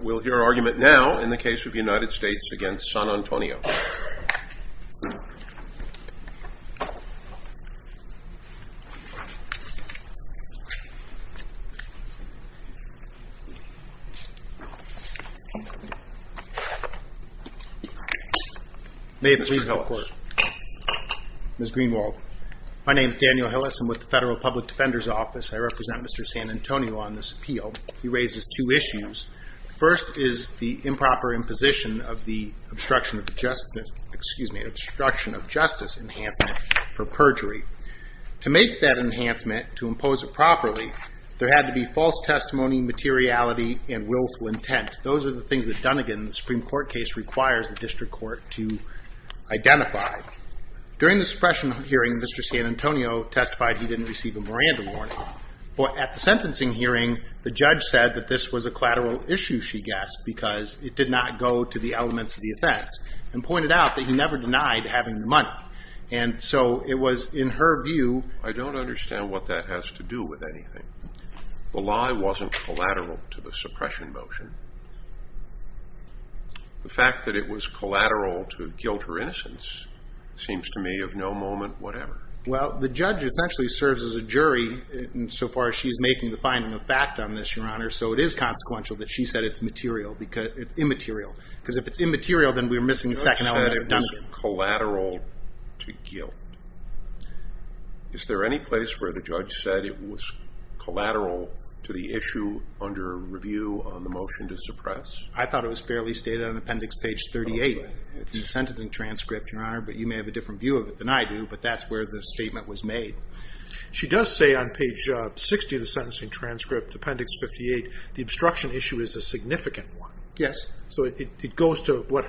We'll hear argument now in the case of the United States v. San Antonio. May it please the court. Ms. Greenwald. My name is Daniel Hillis. I'm with the Federal Public Defender's Office. I represent Mr. San Antonio on this appeal. He raises two issues. First is the improper imposition of the obstruction of justice enhancement for perjury. To make that enhancement, to impose it properly, there had to be false testimony, materiality, and willful intent. Those are the things that Dunnegan's Supreme Court case requires the district court to identify. During the suppression hearing, Mr. San Antonio testified he didn't receive a Miranda warning. But at the sentencing hearing, the judge said that this was a collateral issue, she guessed, because it did not go to the elements of the offense, and pointed out that he never denied having the money. And so it was in her view... The lie wasn't collateral to the suppression motion. The fact that it was collateral to guilt or innocence seems to me of no moment whatever. Well, the judge essentially serves as a jury insofar as she's making the finding of fact on this, Your Honor. So it is consequential that she said it's immaterial. Because if it's immaterial, then we're missing the second element of Dunnegan. It wasn't collateral to guilt. Is there any place where the judge said it was collateral to the issue under review on the motion to suppress? I thought it was fairly stated on appendix page 38 in the sentencing transcript, Your Honor, but you may have a different view of it than I do, but that's where the statement was made. She does say on page 60 of the sentencing transcript, appendix 58, the obstruction issue is a significant one. Yes. So it goes to what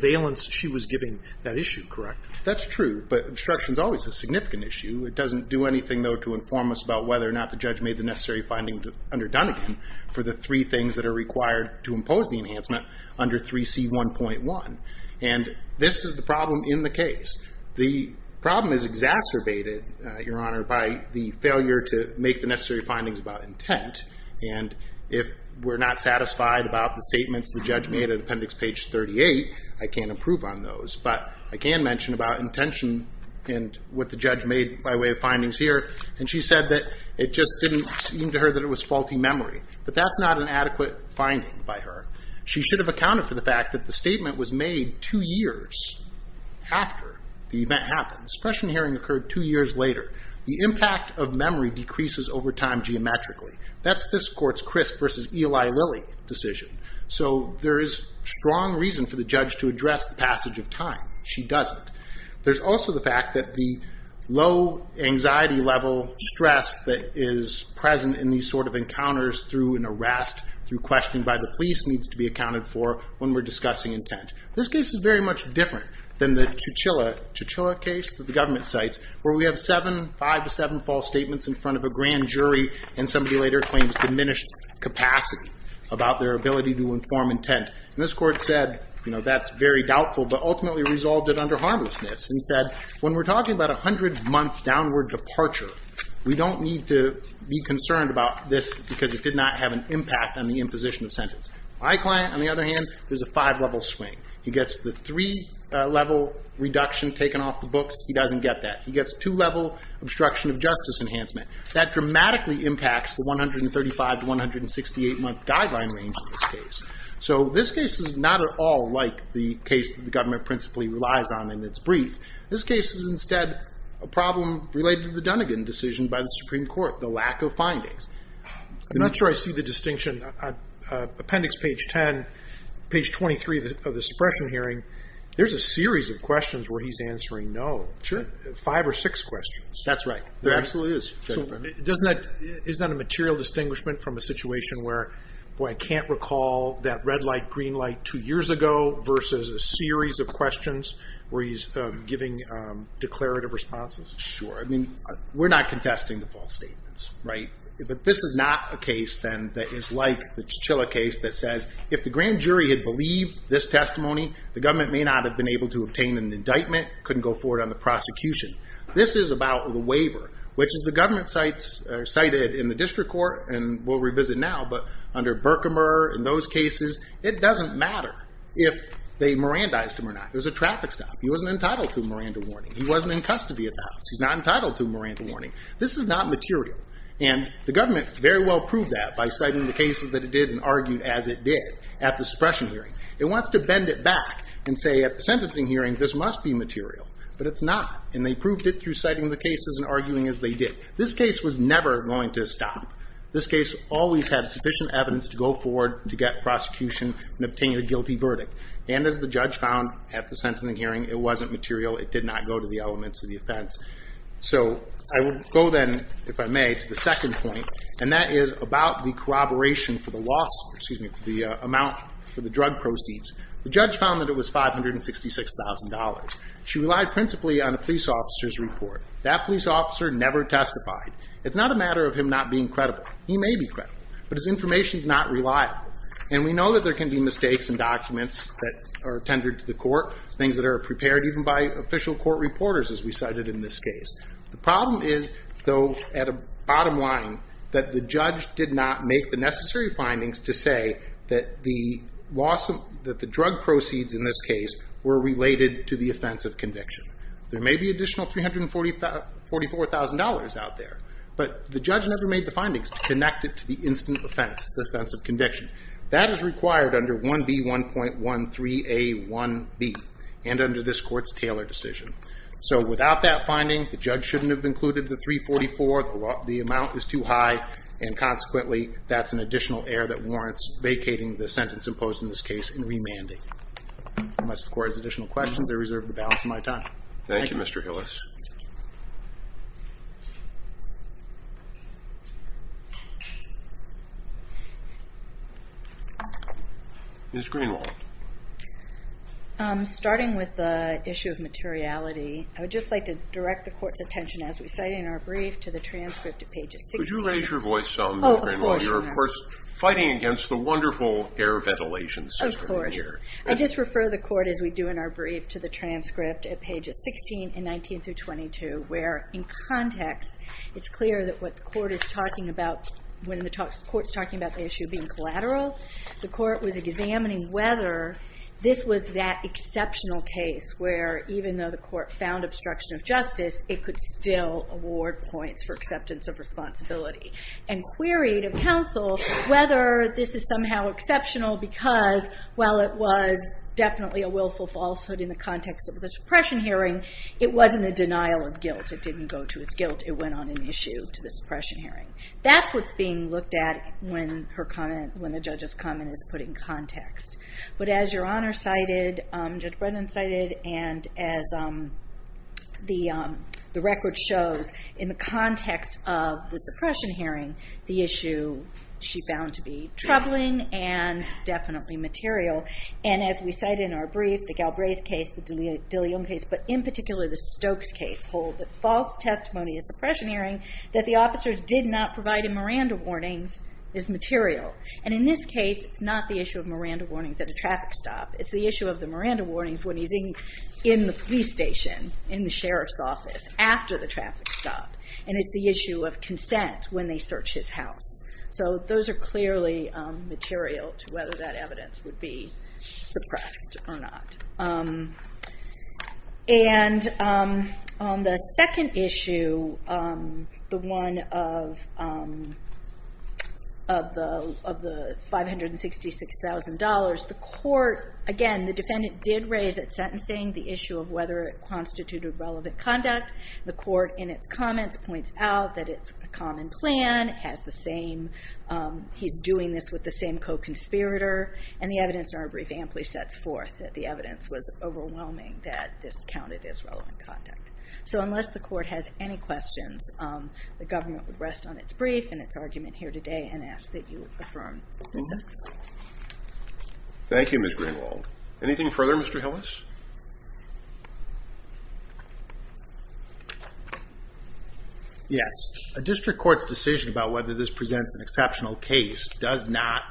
valence she was giving that issue, correct? That's true, but obstruction is always a significant issue. It doesn't do anything, though, to inform us about whether or not the judge made the necessary finding under Dunnegan for the three things that are required to impose the enhancement under 3C1.1. And this is the problem in the case. The problem is exacerbated, Your Honor, by the failure to make the necessary findings about intent. And if we're not satisfied about the statements the judge made on appendix page 38, I can't improve on those. But I can mention about intention and what the judge made by way of findings here. And she said that it just didn't seem to her that it was faulty memory. But that's not an adequate finding by her. She should have accounted for the fact that the statement was made two years after the event happened. The suppression hearing occurred two years later. The impact of memory decreases over time geometrically. That's this court's Crisp versus Eli Lilly decision. So there is strong reason for the judge to address the passage of time. She doesn't. There's also the fact that the low anxiety level stress that is present in these sort of encounters through an arrest, through questioning by the police, needs to be accounted for when we're discussing intent. This case is very much different than the Chuchilla case that the government cites, where we have five to seven false statements in front of a grand jury and somebody later claims diminished capacity about their ability to inform intent. And this court said, that's very doubtful, but ultimately resolved it under harmlessness. And said, when we're talking about a 100-month downward departure, we don't need to be concerned about this because it did not have an impact on the imposition of sentence. My client, on the other hand, there's a five-level swing. He gets the three-level reduction taken off the books. He doesn't get that. He gets two-level obstruction of justice enhancement. That dramatically impacts the 135 to 168-month guideline range in this case. So this case is not at all like the case that the government principally relies on in its brief. This case is instead a problem related to the Dunnegan decision by the Supreme Court, the lack of findings. I'm not sure I see the distinction. Appendix page 10, page 23 of this suppression hearing, there's a series of questions where he's answering no. Sure. Five or six questions. That's right. There absolutely is. Is that a material distinguishment from a situation where I can't recall that red light, green light two years ago versus a series of questions where he's giving declarative responses? Sure. I mean, we're not contesting the false statements, right? But this is not a case then that is like the Chichilla case that says, if the grand jury had believed this testimony, the government may not have been able to obtain an indictment, couldn't go forward on the prosecution. This is about the waiver, which is the government cited in the district court and we'll revisit now. But under Berkemer, in those cases, it doesn't matter if they Mirandized him or not. There's a traffic stop. He wasn't entitled to a Miranda warning. He wasn't in custody at the house. He's not entitled to a Miranda warning. This is not material. And the government very well proved that by citing the cases that it did and argued as it did at the suppression hearing. It wants to bend it back and say at the sentencing hearing, this must be material. But it's not. And they proved it through citing the cases and arguing as they did. This case was never going to stop. This case always had sufficient evidence to go forward to get prosecution and obtain a guilty verdict. And as the judge found at the sentencing hearing, it wasn't material. It did not go to the elements of the offense. So I will go then, if I may, to the second point. And that is about the corroboration for the loss, excuse me, for the amount for the drug proceeds. The judge found that it was $566,000. She relied principally on a police officer's report. That police officer never testified. It's not a matter of him not being credible. He may be credible. But his information is not reliable. Things that are prepared even by official court reporters, as we cited in this case. The problem is, though, at a bottom line, that the judge did not make the necessary findings to say that the drug proceeds in this case were related to the offense of conviction. There may be additional $344,000 out there. But the judge never made the findings to connect it to the instant offense, the offense of conviction. That is required under 1B1.13A1B and under this court's Taylor decision. So without that finding, the judge shouldn't have included the $344,000. The amount is too high. And consequently, that's an additional error that warrants vacating the sentence imposed in this case and remanding. Unless the court has additional questions, I reserve the balance of my time. Thank you, Mr. Hillis. Ms. Greenwald. Starting with the issue of materiality, I would just like to direct the court's attention, as we cited in our brief, to the transcript at pages 16. Could you raise your voice some, Ms. Greenwald? You're, of course, fighting against the wonderful air ventilation system here. Of course. I just refer the court, as we do in our brief, to the transcript at pages 16 and 19 through 22, where in context, it's clear that what the court is talking about when the court's talking about the issue being collateral, the court was examining whether this was that exceptional case where, even though the court found obstruction of justice, it could still award points for acceptance of responsibility. And queried of counsel whether this is somehow exceptional because, while it was definitely a willful falsehood in the context of the suppression hearing, it wasn't a denial of guilt. It didn't go to his guilt. It went on an issue to the suppression hearing. That's what's being looked at when the judge's comment is put in context. But as Your Honor cited, Judge Brennan cited, and as the record shows, in the context of the suppression hearing, the issue, she found to be troubling and definitely material. And as we cite in our brief, the Galbraith case, the DeLeon case, but in particular the Stokes case, she was told that false testimony in suppression hearing that the officers did not provide in Miranda warnings is material. And in this case, it's not the issue of Miranda warnings at a traffic stop. It's the issue of the Miranda warnings when he's in the police station, in the sheriff's office, after the traffic stop. And it's the issue of consent when they search his house. So those are clearly material to whether that evidence would be suppressed or not. And on the second issue, the one of the $566,000, the court, again, the defendant did raise at sentencing the issue of whether it constituted relevant conduct. The court, in its comments, points out that it's a common plan, has the same, he's doing this with the same co-conspirator. And the evidence in our brief amply sets forth that the evidence was overwhelming that this counted as relevant conduct. So unless the court has any questions, the government would rest on its brief and its argument here today and ask that you affirm the sentence. Thank you, Ms. Greenwald. Anything further, Mr. Hillis? Yes, a district court's decision about whether this presents an exceptional case does not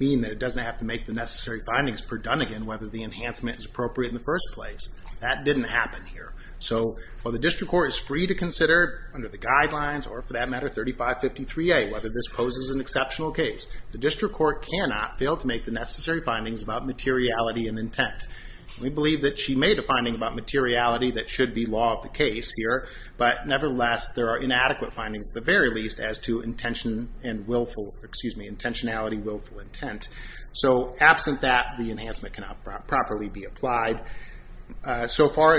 mean that it doesn't have to make the necessary findings per donegan whether the enhancement is appropriate in the first place. That didn't happen here. So while the district court is free to consider under the guidelines, or for that matter, 3553A, whether this poses an exceptional case, the district court cannot fail to make the necessary findings about materiality and intent. We believe that she made a finding about materiality that should be law of the case here. But nevertheless, there are inadequate findings, at the very least, as to intention and willful, excuse me, intentionality, willful intent. So absent that, the enhancement cannot properly be applied. So far,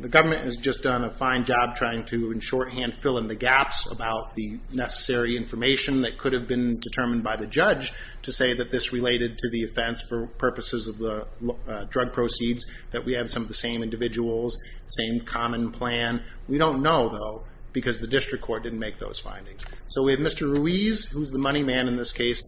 the government has just done a fine job trying to, in shorthand, fill in the gaps about the necessary information that could have been determined by the judge to say that this related to the offense for purposes of the drug proceeds, that we have some of the same individuals, same common plan. We don't know, though, because the district court didn't make those findings. So we have Mr. Ruiz, who's the money man in this case,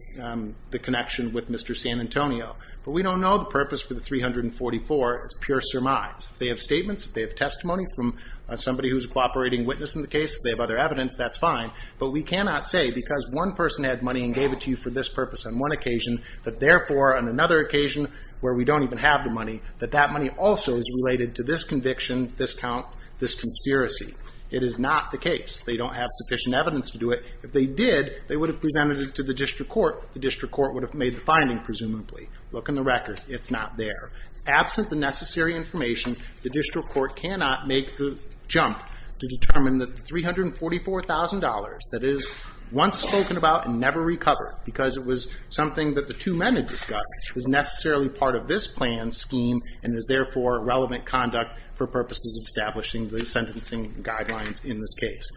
the connection with Mr. San Antonio. But we don't know the purpose for the 344 is pure surmise. If they have statements, if they have testimony from somebody who's a cooperating witness in the case, if they have other evidence, that's fine. But we cannot say, because one person had money and gave it to you for this purpose on one occasion, that therefore, on another occasion, where we don't even have the money, that that money also is related to this conviction, this count, this conspiracy. It is not the case. They don't have sufficient evidence to do it. If they did, they would have presented it to the district court. The district court would have made the finding, presumably. Look in the record. It's not there. Absent the necessary information, the district court cannot make the jump to determine the $344,000 that is once spoken about and never recovered, because it was something that the two men had discussed, is necessarily part of this plan scheme, and is therefore relevant conduct for purposes of establishing the sentencing guidelines in this case.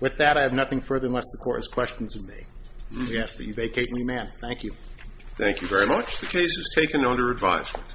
With that, I have nothing further unless the court has questions of me. We ask that you vacate and remand. Thank you. Thank you very much. The case is taken under advisement.